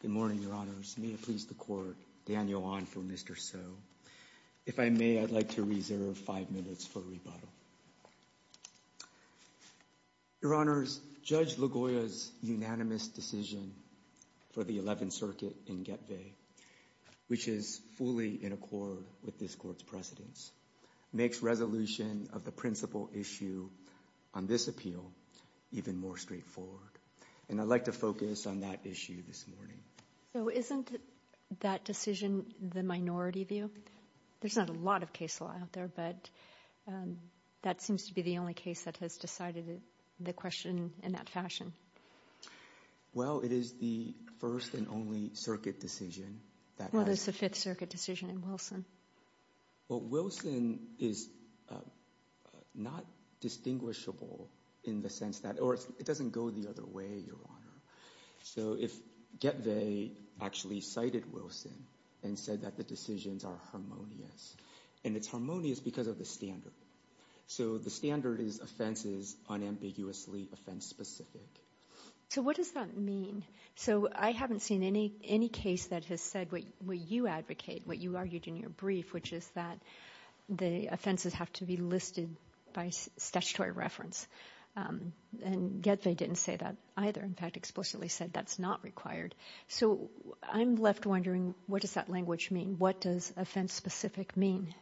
Good morning, Your Honors. May it please the Court, Daniel Wan for Mr. So. If I may, I'd like to reserve five minutes for rebuttal. Your Honors, Judge LaGoya's unanimous decision for the Eleventh Circuit in Getve, which is fully in accord with this Court's precedence, makes resolution of the principal issue on this appeal even more straightforward. And I'd like to focus on that issue this morning. So isn't that decision the minority view? There's not a lot of case law out there, but that seems to be the only case that has decided the question in that fashion. Well, it is the first and only Circuit decision. Well, it's the Fifth Circuit decision in Wilson. Well, Wilson is not distinguishable in the sense that, or it doesn't go the other way, Your Honor. So if Getve actually cited Wilson and said that the decisions are harmonious, and it's harmonious because of the standard. So the standard is offense is unambiguously offense-specific. So what does that mean? So I haven't seen any case that has said what you advocate, what you argued in your brief, which is that the offenses have to be listed by statutory reference. And Getve didn't say that either. In fact, explicitly said that's not required. So I'm left wondering, what does that language mean? What does offense-specific mean?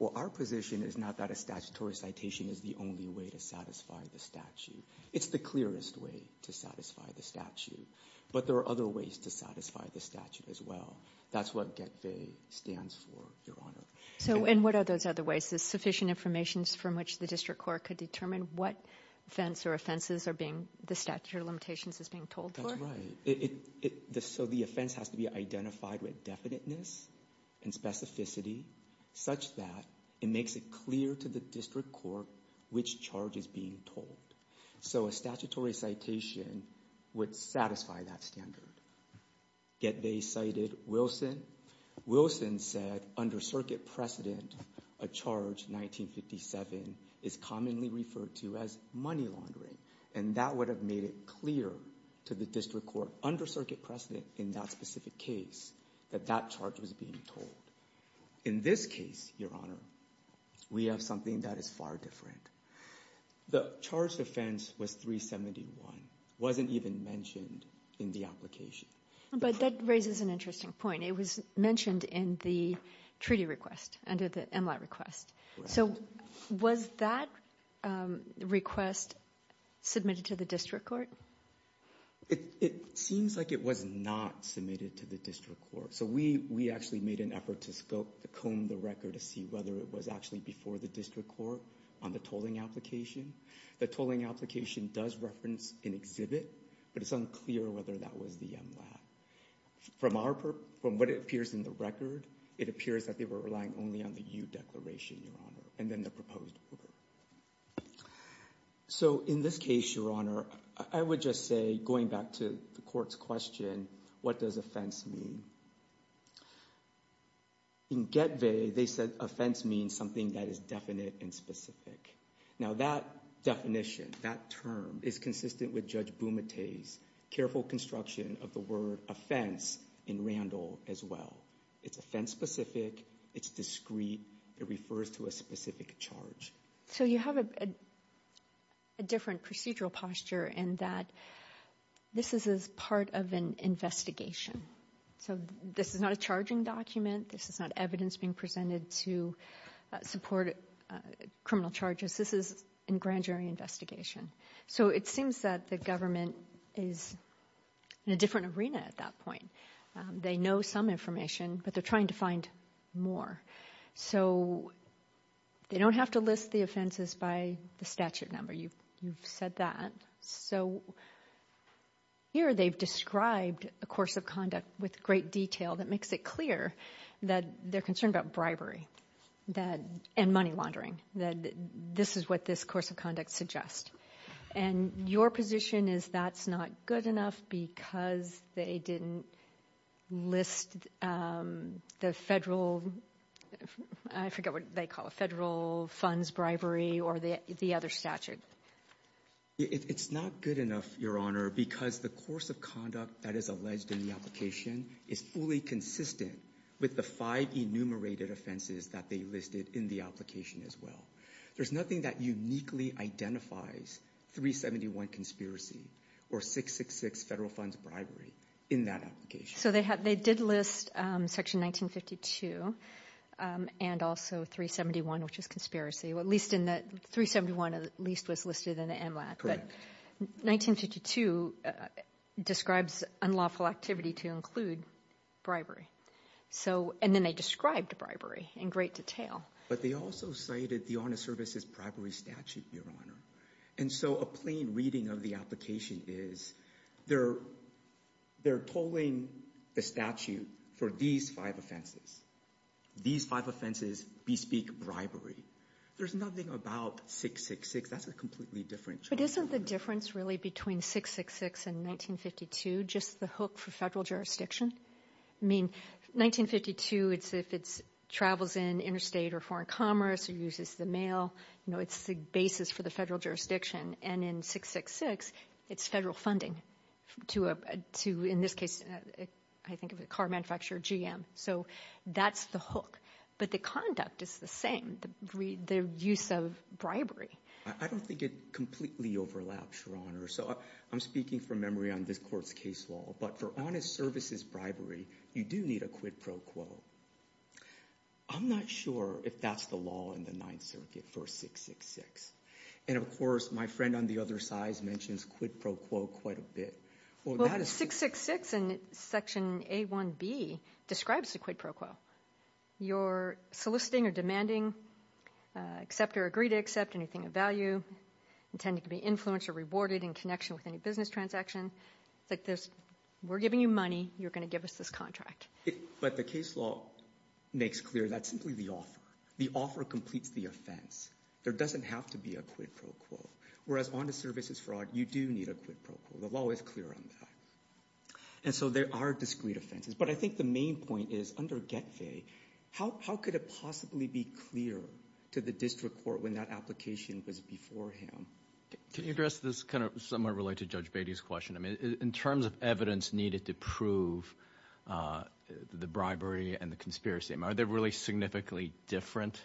Well, our position is not that a statutory citation is the only way to satisfy the statute. It's the clearest way to satisfy the statute. But there are other ways to satisfy the statute as well. That's what Getve stands for, Your Honor. So and what are those other ways? Is sufficient information from which the district court could determine what offense or offenses are being, the statute of limitations is being told for? That's right. So the offense has to be identified with definiteness and specificity such that it makes it clear to the district court which charge is being told. So a statutory citation would satisfy that standard. Getve cited Wilson. Wilson said under circuit precedent, a charge 1957 is commonly referred to as money laundering. And that would have made it clear to the district court under circuit precedent in that specific case that that charge was being told. In this case, Your Honor, we have something that is far different. The charge defense was 371. It wasn't even mentioned in the application. But that raises an interesting point. It was mentioned in the treaty request under the MLAT request. So was that request submitted to the district court? It seems like it was not submitted to the district court. So we actually made an effort to scope, to comb the record to see whether it was actually before the district court on the tolling application. The tolling application does reference an exhibit, but it's unclear whether that was the MLAT. From what appears in the record, it appears that they were relying only on the U declaration, Your Honor, and then the proposed order. So in this case, Your Honor, I would just say, going back to the court's question, what does offense mean? In Getvey, they said offense means something that is definite and specific. Now that definition, that term is consistent with Judge Bumate's careful construction of the word offense in Randall as well. It's offense specific. It's discreet. It refers to a specific charge. So you have a different procedural posture in that this is as part of an investigation. So this is not a charging document. This is not evidence being presented to support criminal charges. This is in grand jury investigation. So it seems that the government is in a different arena at that point. They know some information, but they're trying to find more. So they don't have to list the offenses by the statute number. You've said that. So here they've described a course of conduct with great detail that makes it clear that they're concerned about bribery and money laundering, that this is what this course of conduct suggests. And your position is that's not good enough because they didn't list the federal, I forget what they call it, federal funds bribery or the other statute. It's not good enough, Your Honor, because the course of conduct that is alleged in the application is fully consistent with the five enumerated offenses that they listed in the application as well. There's nothing that uniquely identifies 371 conspiracy or 666 federal funds bribery in that application. So they did list section 1952 and also 371, which is conspiracy, at least in that 371 at least was listed in the MLAT. But 1952 describes unlawful activity to include bribery. So, and then they described bribery in great detail. But they also cited the honest services bribery statute, Your Honor. And so a plain reading of the application is they're tolling the statute for these five offenses. These five offenses bespeak bribery. There's nothing about 666. That's a completely different charge. But isn't the difference really between 666 and 1952 just the hook for federal jurisdiction? I mean, 1952, it's if it's travels in interstate or foreign commerce or uses the mail, you know, it's the basis for the federal jurisdiction. And in 666, it's federal funding to, in this case, I think of a car manufacturer, GM. So that's the hook. But the conduct is the same, the use of bribery. I don't think it completely overlaps, Your Honor. So I'm speaking from memory on this court's case law. But for honest services bribery, you do need a quid pro quo. I'm not sure if that's the law in the Ninth Circuit for 666. And of course, my friend on the other side mentions quid pro quo quite a bit. Well, 666 in Section A1B describes a quid pro quo. You're soliciting or demanding, accept or agree to accept anything of value, intended to be influenced or rewarded in connection with any business transaction. It's like this, we're giving you money, you're going to give us this contract. But the case law makes clear that's simply the offer. The offer completes the offense. There doesn't have to be a quid pro quo. Whereas honest services fraud, you do need a quid pro quo. The law is clear on that. And so there are discrete offenses. But I think the main point is under Getfay, how could it possibly be clear to the district court when that application was before him? Can you address this kind of somewhat related to Judge Beatty's question? I mean, in terms of evidence needed to prove the bribery and the conspiracy, are they really significantly different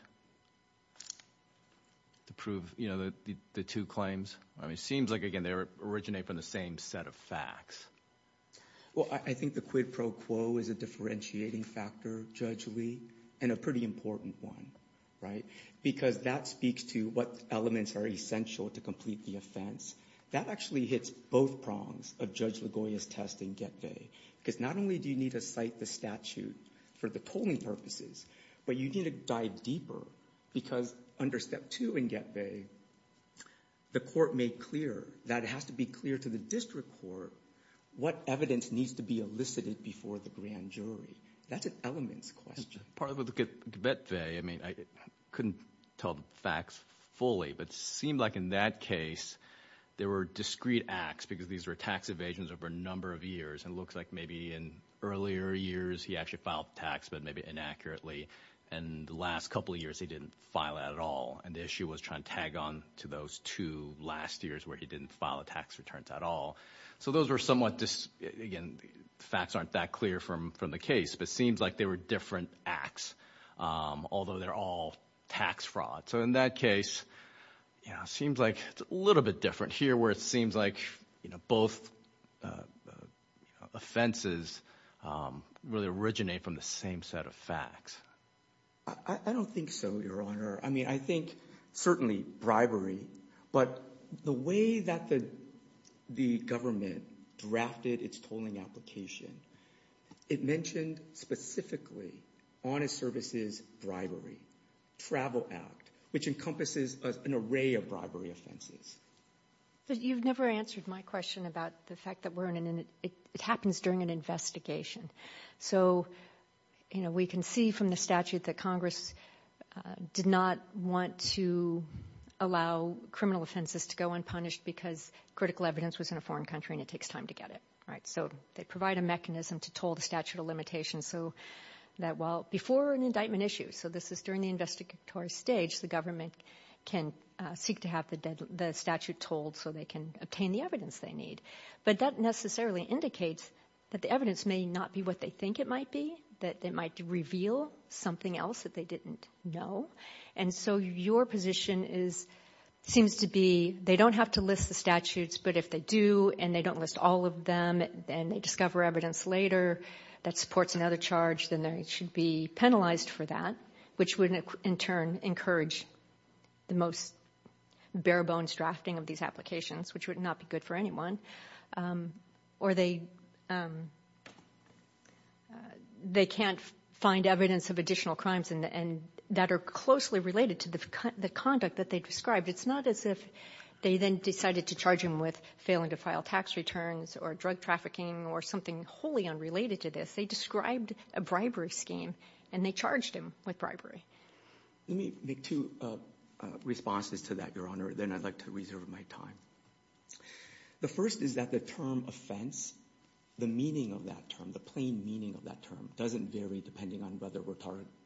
to prove, you know, the two claims? I mean, it seems like, again, they originate from the same set of facts. Well, I think the quid pro quo is a differentiating factor, Judge Lee, and a pretty important one, right? Because that speaks to what elements are essential to complete the offense. That actually hits both prongs of Judge Ligoya's test in Getfay. Because not only do you need to for the tolling purposes, but you need to dive deeper. Because under step two in Getfay, the court made clear that it has to be clear to the district court what evidence needs to be elicited before the grand jury. That's an elements question. Part of the Getfay, I mean, I couldn't tell the facts fully, but it seemed like in that case, there were discrete acts because these were tax evasions over a number of years. And it looks like maybe in earlier years, he actually filed tax, but maybe inaccurately. And the last couple of years, he didn't file at all. And the issue was trying to tag on to those two last years where he didn't file a tax returns at all. So those were somewhat, again, the facts aren't that clear from the case, but it seems like they were different acts, although they're all tax fraud. So in that case, it seems like it's a little bit different here where it seems like both offenses really originate from the same set of facts. I don't think so, Your Honor. I mean, I think certainly bribery, but the way that the government drafted its tolling application, it mentioned specifically honest services bribery, travel act, which encompasses an array of bribery offenses. You've never answered my question about the fact that it happens during an investigation. So, you know, we can see from the statute that Congress did not want to allow criminal offenses to go unpunished because critical evidence was in a foreign country and it takes time to get it. So they provide a mechanism to toll the statute of limitations so that, well, before an indictment issue, so this is during the investigatory stage, the government can seek to have the statute tolled so they can obtain the evidence they need. But that necessarily indicates that the evidence may not be what they think it might be, that it might reveal something else that they didn't know. And so your position seems to be they don't have to list the statutes, but if they do and they don't list all of them and they discover evidence later that supports another charge, then they should be penalized for that, which would in turn encourage the most bare bones drafting of these applications, which would not be good for anyone. Or they can't find evidence of additional crimes that are closely related to the conduct that they described. It's not as if they then decided to charge him with failing to file tax returns or drug trafficking or something wholly unrelated to this. They described a bribery scheme and they charged him with bribery. Let me make two responses to that, Your Honor, then I'd like to reserve my time. The first is that the term offense, the meaning of that term, the plain meaning of that term, doesn't vary depending on whether we're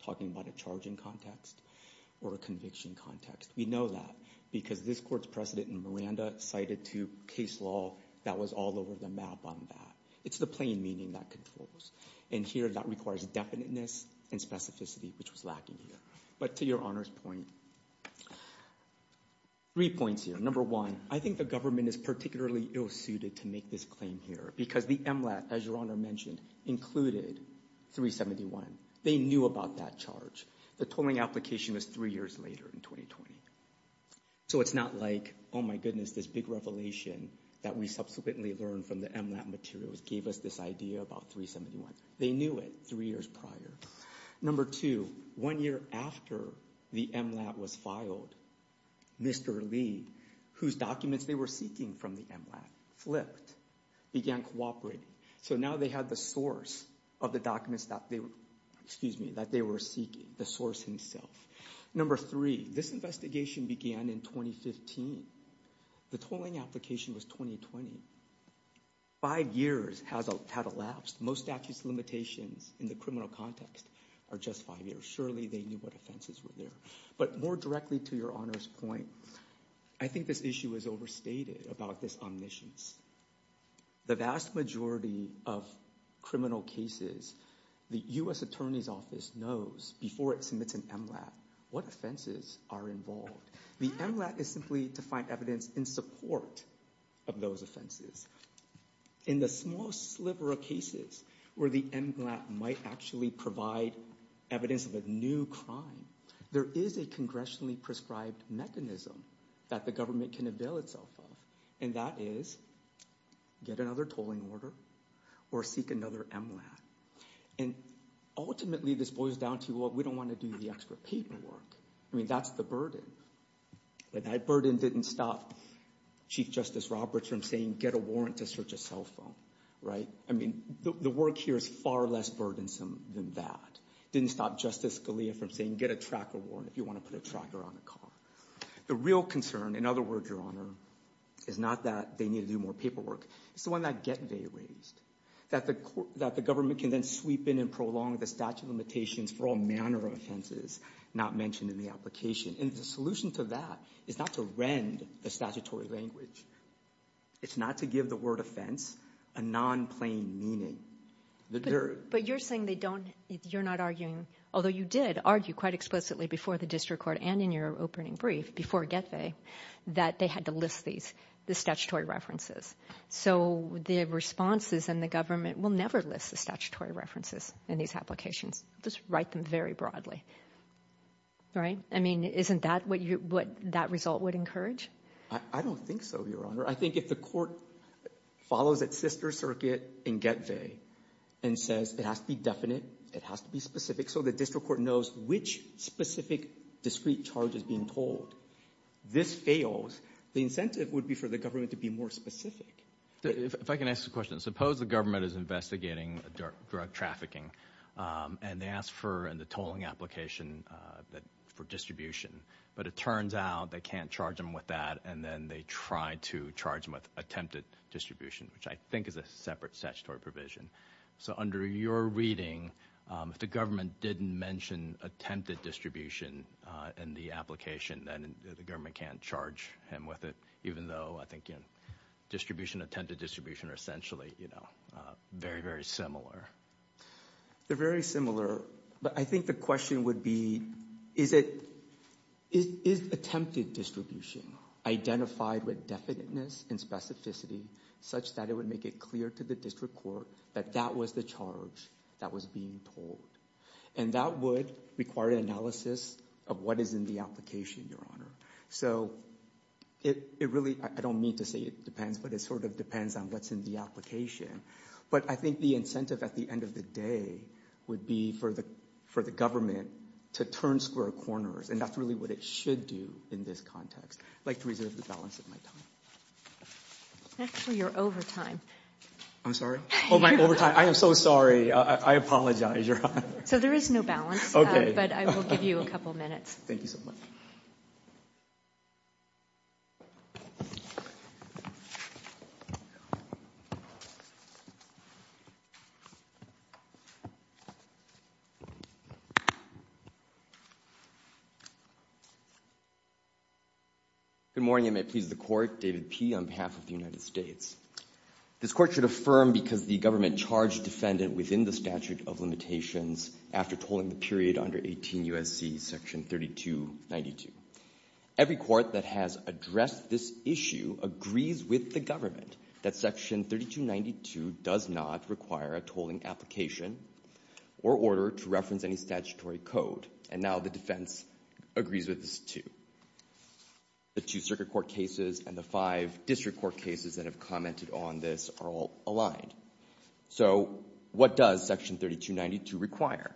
talking about a charging context or a conviction context. We know that because this Court's precedent in Miranda cited to case law that was all over the map on that. It's the plain meaning that controls. And here that requires definiteness and specificity, which was lacking here. But to Your Honor's point, three points here. Number one, I think the government is particularly ill-suited to make this claim here because the MLAT, as Your Honor mentioned, included 371. They knew about that charge. The tolling application was three years later in 2020. So it's not like, oh my goodness, this big revelation that we subsequently learned from the MLAT materials gave us this idea about 371. They knew it three years prior. Number two, one year after the MLAT was filed, Mr. Lee, whose documents they were seeking from the MLAT, flipped, began cooperating. So now they had the source of the documents that they were, excuse me, that they were seeking, the source himself. Number three, this investigation began in 2015. The tolling application was 2020. Five years has had elapsed. Most statute's limitations in the criminal context are just five years. Surely they knew what offenses were there. But more directly to Your Honor's point, I think this issue is overstated about this omniscience. The vast majority of criminal cases, the U.S. Attorney's Office knows before it submits an MLAT what offenses are involved. The MLAT is simply to find evidence in support of those offenses. In the small sliver of cases where the MLAT might actually provide evidence of a new crime, there is a congressionally prescribed mechanism that the government can avail itself of. And that is, get another tolling order or seek another MLAT. And ultimately, this boils down to, well, we don't want to do the extra paperwork. I mean, that's the burden. But that burden didn't stop Chief Justice Roberts from saying, get a warrant to search a cell phone, right? I mean, the work here is far less burdensome than that. Didn't stop Justice Scalia from saying, get a tracker warrant if you want to put a tracker on a car. The real concern, in other words, Your Honor, is not that they need to do more paperwork. It's the one that get they raised. That the government can then sweep in and prolong the statute limitations for all manner of offenses not mentioned in the application. And the solution to that is not to rend the statutory language. It's not to give the word offense a non-plain meaning. But you're saying they don't, you're not arguing, although you did argue quite explicitly before the district court and in your opening brief before get they, that they had to list these, the statutory references. So the responses and the government will never list the statutory references in these applications. Just write them very broadly, right? I mean, isn't that what you, what that result would encourage? I don't think so, Your Honor. I think if the court follows its sister circuit in get they and says it has to be definite, it has to be specific, so the district court knows which specific discrete charge is being told. This fails. The incentive would be for the government to be more specific. If I can ask a question, suppose the government is investigating drug trafficking and they asked for in the tolling application for distribution, but it turns out they can't charge them with that and then they try to charge them with attempted distribution, which I think is a separate statutory provision. So under your reading, if the government didn't mention attempted distribution in the application, then the government can't charge him with it, even though I think, you know, distribution, attempted distribution are essentially, you know, very, very similar. They're very similar, but I think the question would be, is it, is attempted distribution identified with definiteness and specificity such that it would make it clear to the district court that that was the charge that was being told? And that would require an analysis of what is in the application, Your Honor. So it really, I don't mean to say it depends, but it sort of depends on what's in the application. But I think the incentive at the end of the day would be for the government to turn square corners. And that's really what it should do in this context. I'd like to reserve the balance of my time. Actually, you're over time. I'm sorry? Oh, my overtime. I am so sorry. I apologize, Your Honor. So there is no balance, but I will give you a couple minutes. Thank you so much. Good morning. I may please the Court. David P. on behalf of the United States. This Court should affirm because the government charged defendant within the statute of limitations after tolling the period under 18 U.S.C. section 3292. Every court that has addressed this issue agrees with the government that section 3292 does not require a tolling application or order to reference any statutory code. And now the defense agrees with this too. The two circuit court cases and the five district court cases that have commented on this are all So what does section 3292 require?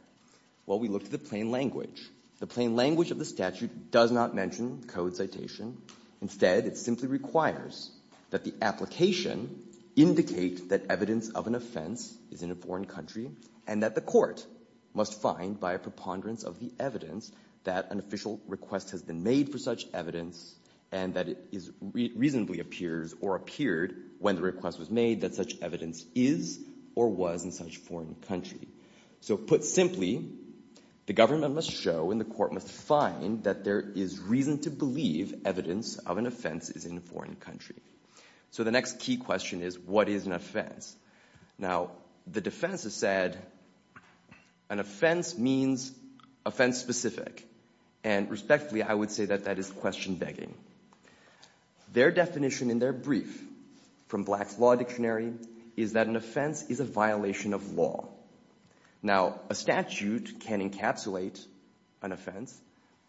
Well, we look to the plain language. The plain language of the statute does not mention code citation. Instead, it simply requires that the application indicate that evidence of an offense is in a foreign country and that the court must find by a preponderance of the evidence that an official request has been made for such evidence and that it reasonably appears or appeared when the request was made that such evidence is or was in such foreign country. So put simply, the government must show and the court must find that there is reason to believe evidence of an offense is in a foreign country. So the next key question is, what is an offense? Now, the defense has said an offense means offense specific. And respectfully, I would say that that is question begging. Their definition in their brief from Black's Law Dictionary is that an offense is a violation of law. Now, a statute can encapsulate an offense,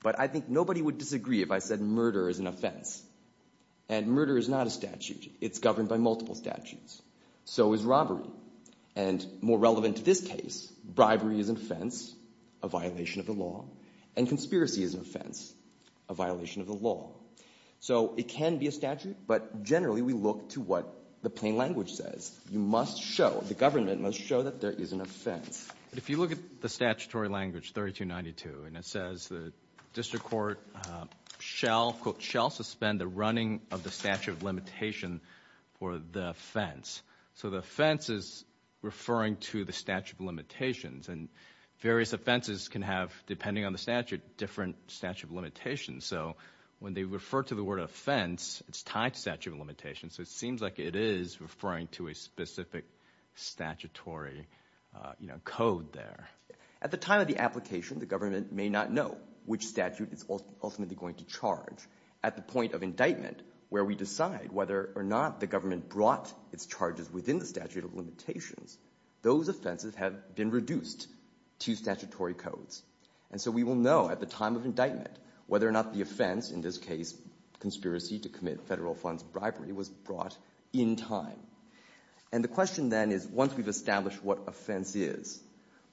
but I think nobody would disagree if I said murder is an offense. And murder is not a statute. It's governed by multiple statutes. So is robbery. And more relevant to this case, bribery is an offense, a violation of the law. And conspiracy is an offense, a violation of the law. So it can be a statute, but generally we look to what the plain language says. You must show, the government must show that there is an offense. But if you look at the statutory language 3292, and it says the district court shall, quote, shall suspend the running of the statute of limitation for the offense. So the offense is referring to the statute of limitations. And various offenses can have, depending on the statute, different statute of limitations. So when they refer to the word offense, it's tied to statute of limitations. So it seems like it is referring to a specific statutory code there. At the time of the application, the government may not know which statute it's ultimately going to charge. At the point of indictment, where we decide whether or not the government brought its charges within the statute of limitations, those offenses have been reduced to statutory codes. And so we will know at the time of indictment whether or not the offense, in this case conspiracy to commit federal funds bribery, was brought in time. And the question then is, once we've established what offense is,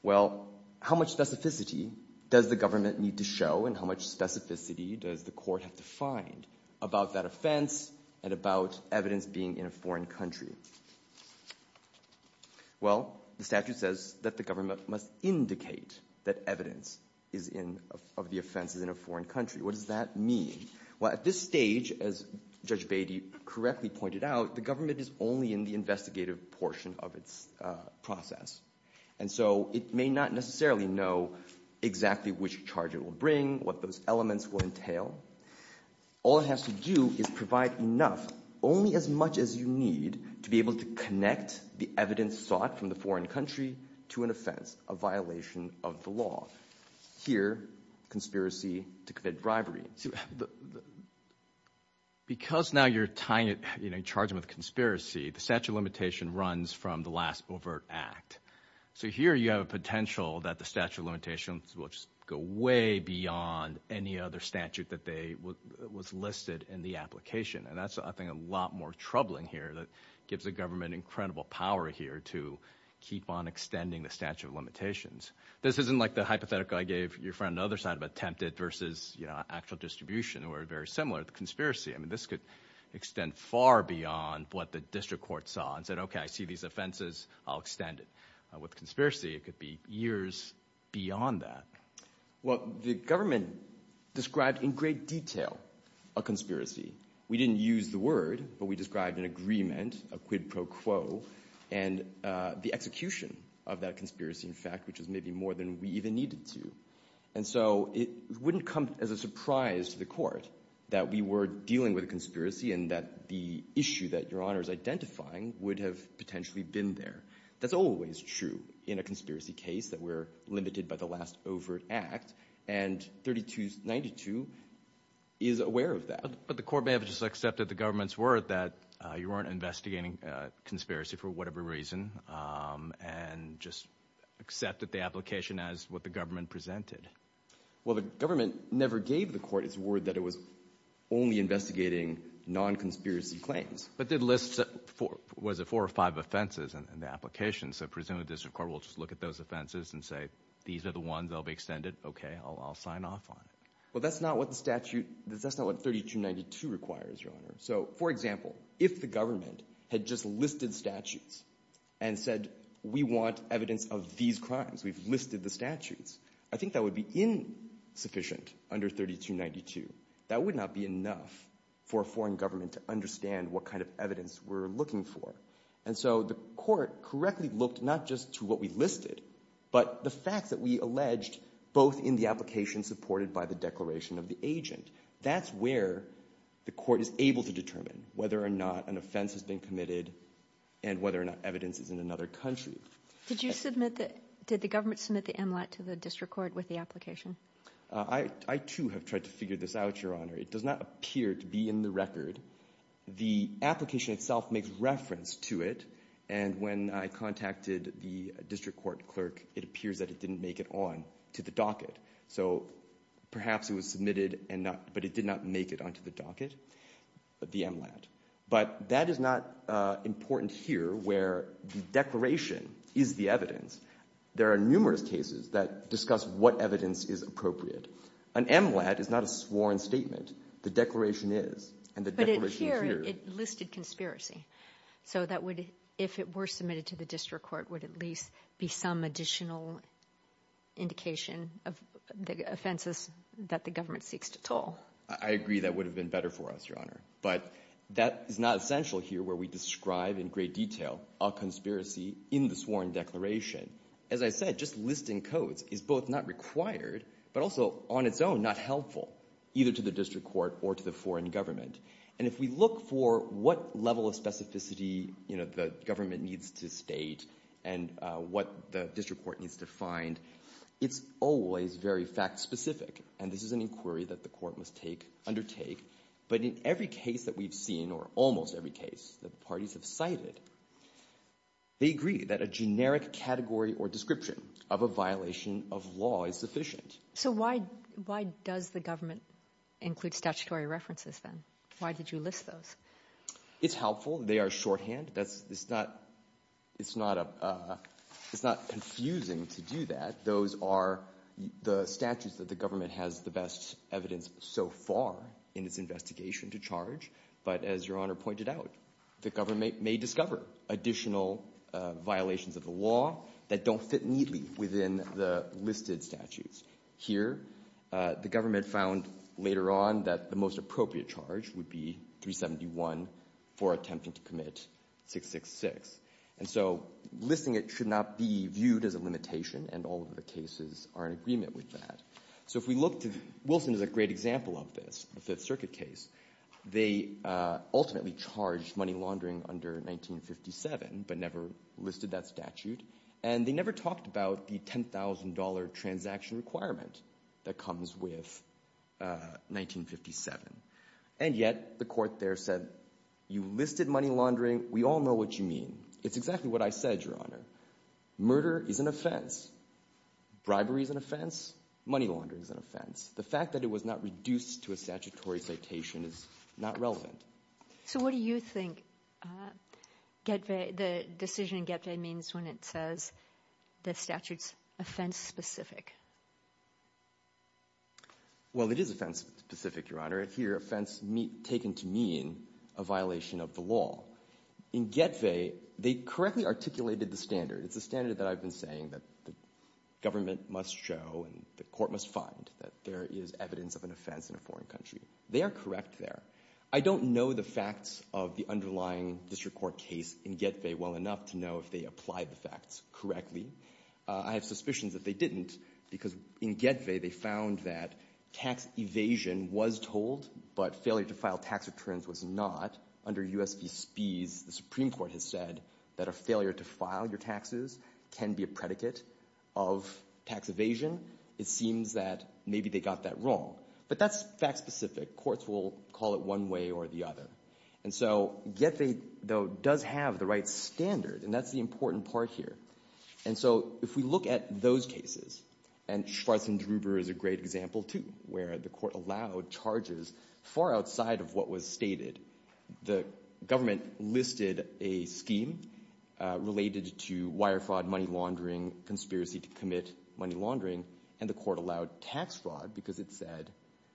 well, how much specificity does the government need to show and how much specificity does the court have to find about that offense and about evidence being in a foreign country? Well, the statute says that the government must indicate that evidence of the offense is in a foreign country. What does that mean? Well, at this stage, as Judge Beatty correctly pointed out, the government is only in the investigative portion of its process. And so it may not necessarily know exactly which charge it will only as much as you need to be able to connect the evidence sought from the foreign country to an offense, a violation of the law. Here, conspiracy to commit bribery. Because now you're charging with conspiracy, the statute of limitation runs from the last overt act. So here you have a potential that the statute of limitations will just go way beyond any other statute that was listed in the application. And that's, I think, a lot more troubling here that gives the government incredible power here to keep on extending the statute of limitations. This isn't like the hypothetical I gave your friend on the other side of attempted versus actual distribution or very similar to conspiracy. I mean, this could extend far beyond what the district court saw and said, OK, I see these offenses, I'll extend it. With conspiracy, it could be years beyond that. Well, the government described in great detail a conspiracy. We didn't use the word, but we described an agreement, a quid pro quo, and the execution of that conspiracy, in fact, which is maybe more than we even needed to. And so it wouldn't come as a surprise to the court that we were dealing with a conspiracy and that the issue that your case, that we're limited by the last overt act, and 3292 is aware of that. But the court may have just accepted the government's word that you weren't investigating conspiracy for whatever reason and just accepted the application as what the government presented. Well, the government never gave the court its word that it was only investigating non-conspiracy claims. But it lists was it four or five offenses in the application, so presumably the district court will just look at those offenses and say, these are the ones that will be extended, OK, I'll sign off on it. Well, that's not what the statute, that's not what 3292 requires, Your Honor. So, for example, if the government had just listed statutes and said, we want evidence of these crimes, we've listed the statutes, I think that would be insufficient under 3292. That would not be enough for a foreign government to understand what kind of evidence we're looking for. And so the court correctly looked not just to what we listed, but the facts that we alleged both in the application supported by the declaration of the agent. That's where the court is able to determine whether or not an offense has been committed and whether or not evidence is in another country. Did you submit the, did the government submit the MLAT to the district court with the application? I too have tried to figure this out, Your Honor. It does not appear to be in the record. The application itself makes reference to it, and when I contacted the district court clerk, it appears that it didn't make it on to the docket. So perhaps it was submitted and not, but it did not make it onto the docket, the MLAT. But that is not important here where the declaration is the evidence. There are numerous cases that discuss what evidence is appropriate. An MLAT is not a sworn statement. The declaration is. But here it listed conspiracy. So that would, if it were submitted to the district court, would at least be some additional indication of the offenses that the government seeks to toll. I agree that would have been better for us, Your Honor. But that is not essential here where we describe in great detail a conspiracy in the sworn declaration. As I said, just listing codes is both not required but also on its own not helpful either to the district court or to the foreign government. And if we look for what level of specificity, you know, the government needs to state and what the district court needs to find, it's always very fact-specific. And this is an inquiry that the court must undertake. But in every case that we've seen, or almost every case, that parties have evaluated, they agree that a generic category or description of a violation of law is sufficient. So why does the government include statutory references then? Why did you list those? It's helpful. They are shorthand. It's not confusing to do that. Those are the statutes that the government has the best evidence so far in its investigation to charge. But as Your Honor pointed out, the government may discover additional violations of the law that don't fit neatly within the listed statutes. Here, the government found later on that the most appropriate charge would be 371 for attempting to commit 666. And so listing it should not be viewed as a limitation, and all of the cases are in agreement with that. So if we look to Wilson as a great example of this, the Fifth Circuit case, they ultimately charged money laundering under 1957, but never listed that statute. And they never talked about the $10,000 transaction requirement that comes with 1957. And yet, the court there said, you listed money laundering. We all know what you mean. It's exactly what I said, Your Honor. Murder is an offense. Bribery is an offense. Money laundering is an offense. And the statutory citation is not relevant. So what do you think the decision in Getve means when it says the statute's offense-specific? Well, it is offense-specific, Your Honor. Here, offense taken to mean a violation of the law. In Getve, they correctly articulated the standard. It's a standard that I've been saying that the government must show and the court must find that there is evidence of an offense in a foreign country. They are correct there. I don't know the facts of the underlying district court case in Getve well enough to know if they applied the facts correctly. I have suspicions that they didn't, because in Getve, they found that tax evasion was told, but failure to file tax returns was not. Under U.S. v. Spies, the Supreme Court has said that a failure to file your taxes can be a predicate of tax evasion. It seems that maybe they got that wrong. But that's fact-specific. Courts will call it one way or the other. And so Getve, though, does have the right standard, and that's the important part here. And so if we look at those cases, and Schwartz and Druber is a great example, too, where the court allowed charges far outside of what was stated. The government listed a scheme related to wire fraud, money laundering, conspiracy to commit money laundering, and the court allowed tax fraud because it said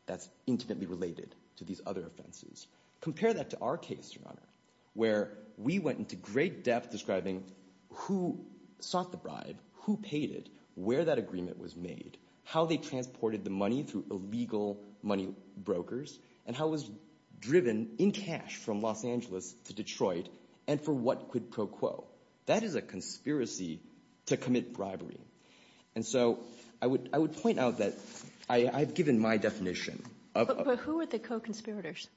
that's intimately related to these other offenses. Compare that to our case, Your Honor, where we went into great depth describing who sought the bribe, who paid it, where that agreement was made, how they transported the money through illegal money brokers, and how it was driven in cash from Los Angeles to Detroit, and for what quid pro quo. That is a conspiracy to commit bribery. And so I would point out that I've given my definition of... But who are the co-conspirators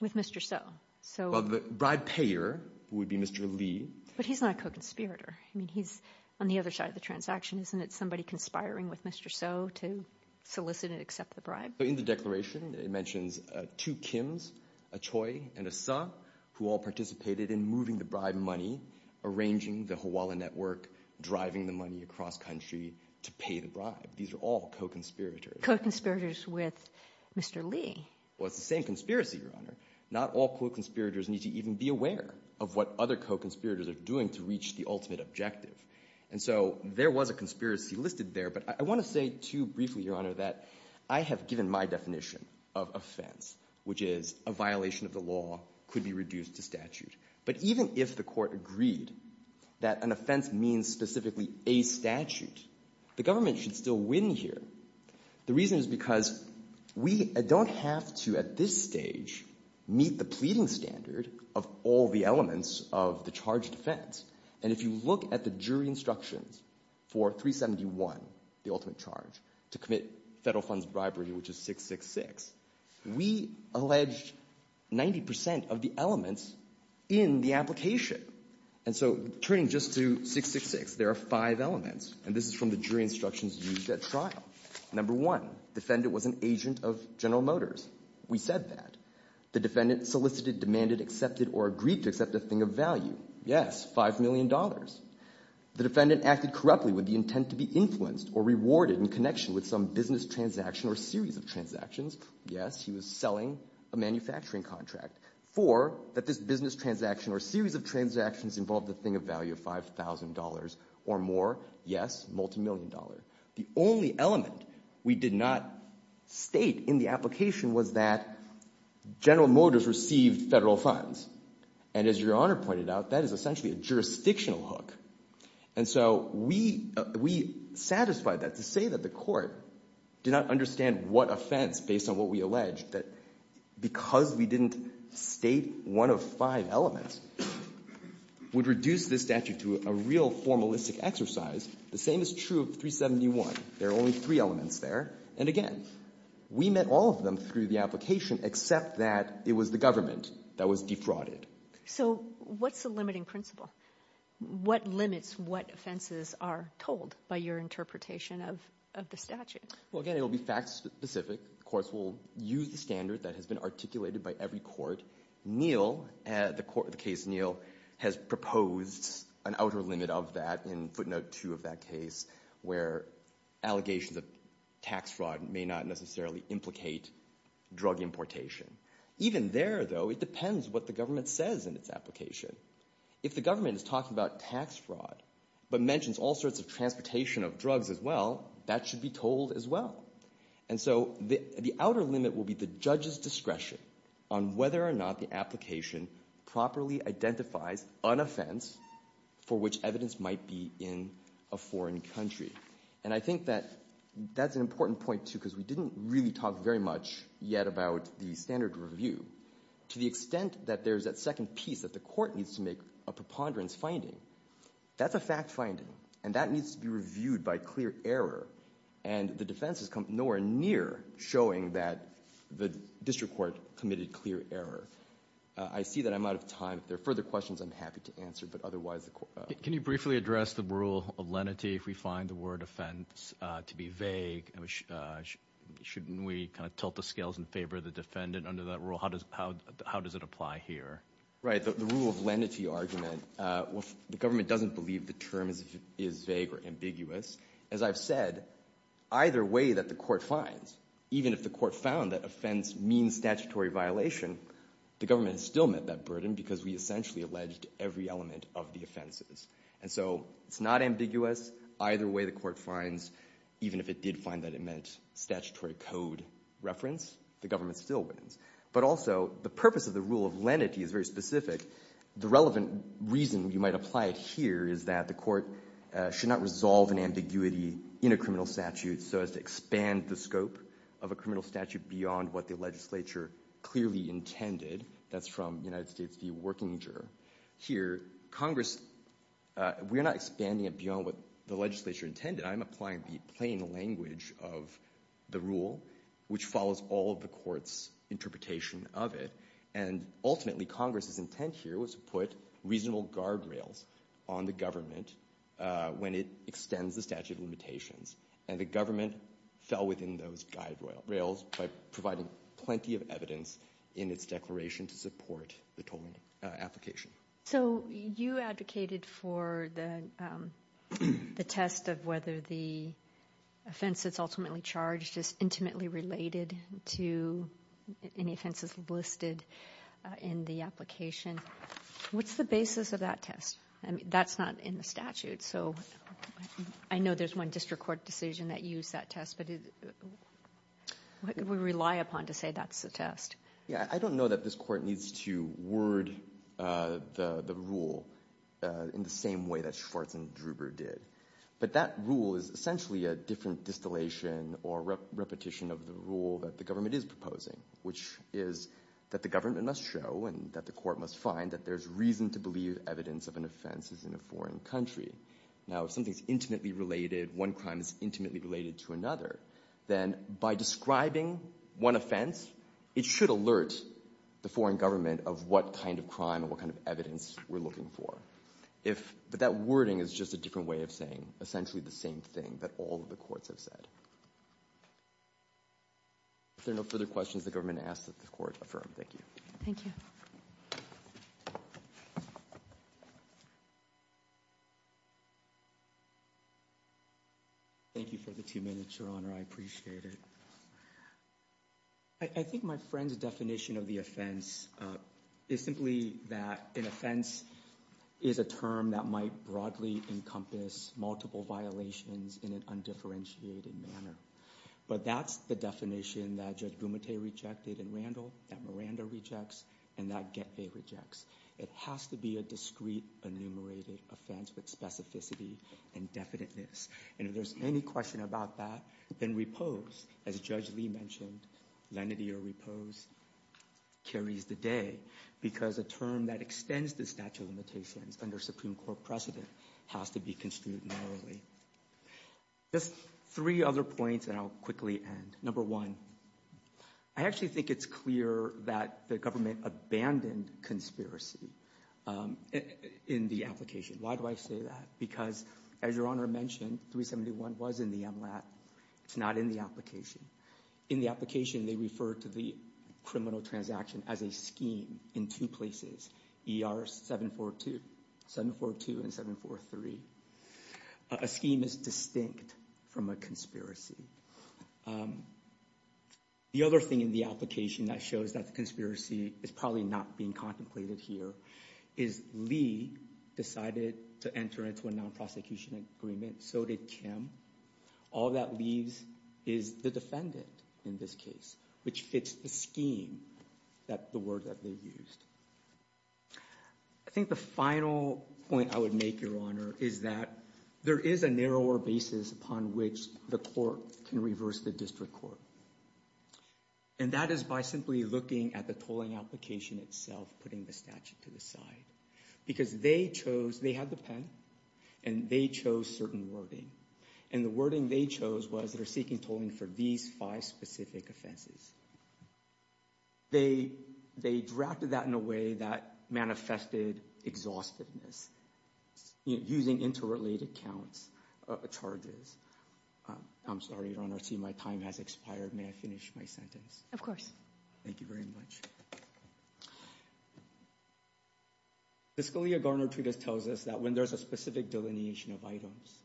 with Mr. So? Well, the bribe payer would be Mr. Lee. But he's not a co-conspirator. I mean, he's on the other side of the transaction. Isn't it somebody conspiring with Mr. So to solicit and accept the bribe? In the declaration, it mentions two Kims, a Choi and a So, who all participated in moving the bribe money, arranging the Hawala Network, driving the money across country to pay the bribe. These are all co-conspirators. Co-conspirators with Mr. Lee? Well, it's the same conspiracy, Your Honor. Not all co-conspirators need to even be aware of what other co-conspirators are doing to reach the ultimate objective. And so there was a conspiracy listed there, but I want to say too briefly, Your Honor, that I have given my definition of offense, which is a violation of the law could be reduced to statute. But even if the court agreed that an offense means specifically a statute, the government should still win here. The reason is because we don't have to, at this stage, meet the pleading standard of all the elements of the charge defense. And if you look at the jury instructions for 371, the ultimate charge, to commit federal funds bribery, which is 666, we alleged 90 percent of the elements in the application. And so turning just to 666, there are five elements, and this is from the jury instructions used at trial. Number one, defendant was an agent of General Motors. We said that. The defendant solicited, demanded, accepted, or agreed to accept a thing of value. Yes, five million dollars. The defendant acted corruptly with the intent to be influenced or rewarded in connection with some business transaction or series of transactions. Yes, he was selling a manufacturing contract. Four, that this business transaction or series of transactions involved a thing of value of $5,000 or more. Yes, multimillion dollar. The only element we did not state in the application was that General Motors received federal funds. And as Your Honor pointed out, that is essentially a jurisdictional hook. And so we satisfied that to say that the court did not understand what offense, based on what we alleged, that because we didn't state one of five elements, would reduce this statute to a real formalistic exercise. The same is true of 371. There are only three elements there. And again, we met all of them through the application, except that it was the government that was defrauded. So what's the limiting principle? What limits what offenses are told by your interpretation of the statute? Well, again, it will be fact specific. The courts will use the standard that has been articulated by every court. Neil, the case Neil, has proposed an outer limit of that in footnote two of that case, where allegations of tax fraud may not necessarily implicate drug importation. Even there, though, it depends what the government says in its application. If the government is talking about tax fraud, but mentions all sorts of transportation of drugs as well, that should be told as well. And so the outer limit will be the judge's discretion on whether or not the application properly identifies an offense for which evidence might be in a foreign country. And I think that that's an important point, too, because we didn't really talk very much yet about the standard review. To the extent that there's that second piece that the court needs to make a preponderance finding, that's a fact finding. And that needs to be reviewed by clear error. And the defense has come nowhere near showing that the district court committed clear error. I see that I'm out of time. If there are further questions, I'm happy to answer, but otherwise the court... Can you briefly address the rule of lenity if we find the word offense to be vague? Shouldn't we kind of tilt the scales in favor of the defendant under that rule? How does it apply here? Right. The rule of lenity argument, the government doesn't believe the term is vague or ambiguous. As I've said, either way that the court finds, even if the court found that offense means statutory violation, the government still met that burden because we essentially alleged every element of the offenses. And so it's not ambiguous. Either way the court finds, even if it did find that it meant statutory code reference, the government still wins. But also, the purpose of the rule of lenity is very specific. The relevant reason you might apply it here is that the court should not resolve an ambiguity in a criminal statute so as to expand the scope of a criminal statute beyond what the legislature clearly intended. That's from United States v. Working Juror. Here, Congress, we're not expanding it beyond what the legislature intended. I'm applying the plain language of the rule, which follows all of the court's interpretation of it. And ultimately, Congress's intent here was to put reasonable guardrails on the government when it extends the statute of limitations. And the government fell within those guardrails by providing plenty of evidence in its declaration to support the tolling application. So you advocated for the test of whether the offense that's ultimately charged is intimately related to any offenses listed in the application. What's the basis of that test? That's not in the statute. So I know there's one district court decision that used that test, but what could we rely upon to say that's the test? Yeah, I don't know that this court needs to word the rule in the same way that Schwartz and Druber did. But that rule is essentially a different distillation or repetition of the rule that the government is proposing, which is that the government must show and that the court must find that there's reason to believe evidence of an offense is in a foreign country. Now, if something's intimately related, one crime is intimately related to another, then by describing one offense, it should alert the foreign government of what kind of crime or what kind of evidence we're looking for. But that wording is just a different way of saying essentially the same thing that all of the courts have said. If there are no further questions, the government asks that the court affirm. Thank you. Thank you. Thank you for the two minutes, Your Honor. I appreciate it. I think my friend's definition of the offense is simply that an offense is a term that might broadly encompass multiple violations in an undifferentiated manner. But that's the definition that Judge Gumete rejected in Randall, that Miranda rejects, and that Getvey rejects. It has to be a discrete, enumerated offense with specificity and definiteness. And if there's any question about that, then repose, as Judge Lee mentioned, lenity or repose, carries the day because a term that extends the statute of limitations under Supreme Court precedent has to be construed narrowly. Just three other points, and I'll quickly end. Number one, I actually think it's clear that the government abandoned conspiracy in the application. Why do I say that? Because as Your Honor mentioned, 371 was in the MLAT. It's not in the application. In the application, they refer to the criminal transaction as a scheme in two places, ER 742 and 743. A scheme is distinct from a conspiracy. The other thing in the application that shows that the conspiracy is probably not being contemplated here is Lee decided to enter into a non-prosecution agreement. So did Kim. All that leaves is the defendant in this case, which fits the scheme, the word that they've used. I think the final point I would make, Your Honor, is that there is a narrower basis upon which the court can reverse the district court. And that is by simply looking at the tolling application itself, putting the statute to the side. Because they chose, they had the pen, and they chose certain wording. And the wording they chose was they're seeking tolling for these five specific offenses. They drafted that in a way that manifested exhaustiveness, using interrelated counts, charges. I'm sorry, Your Honor, I see my time has expired. May I finish my sentence? Of course. Thank you very much. The Scalia-Garner Treatise tells us that when there's a specific delineation of items,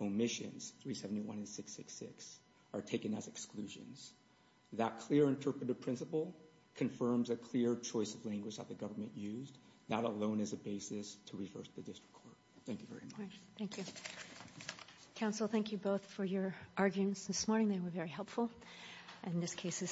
omissions 371 and 666 are taken as exclusions. That clear interpretive principle confirms a clear choice of language that the government used, not alone as a basis to reverse the district court. Thank you very much. Thank you. Counsel, thank you both for your arguments this morning. They were very helpful. And this case is submitted.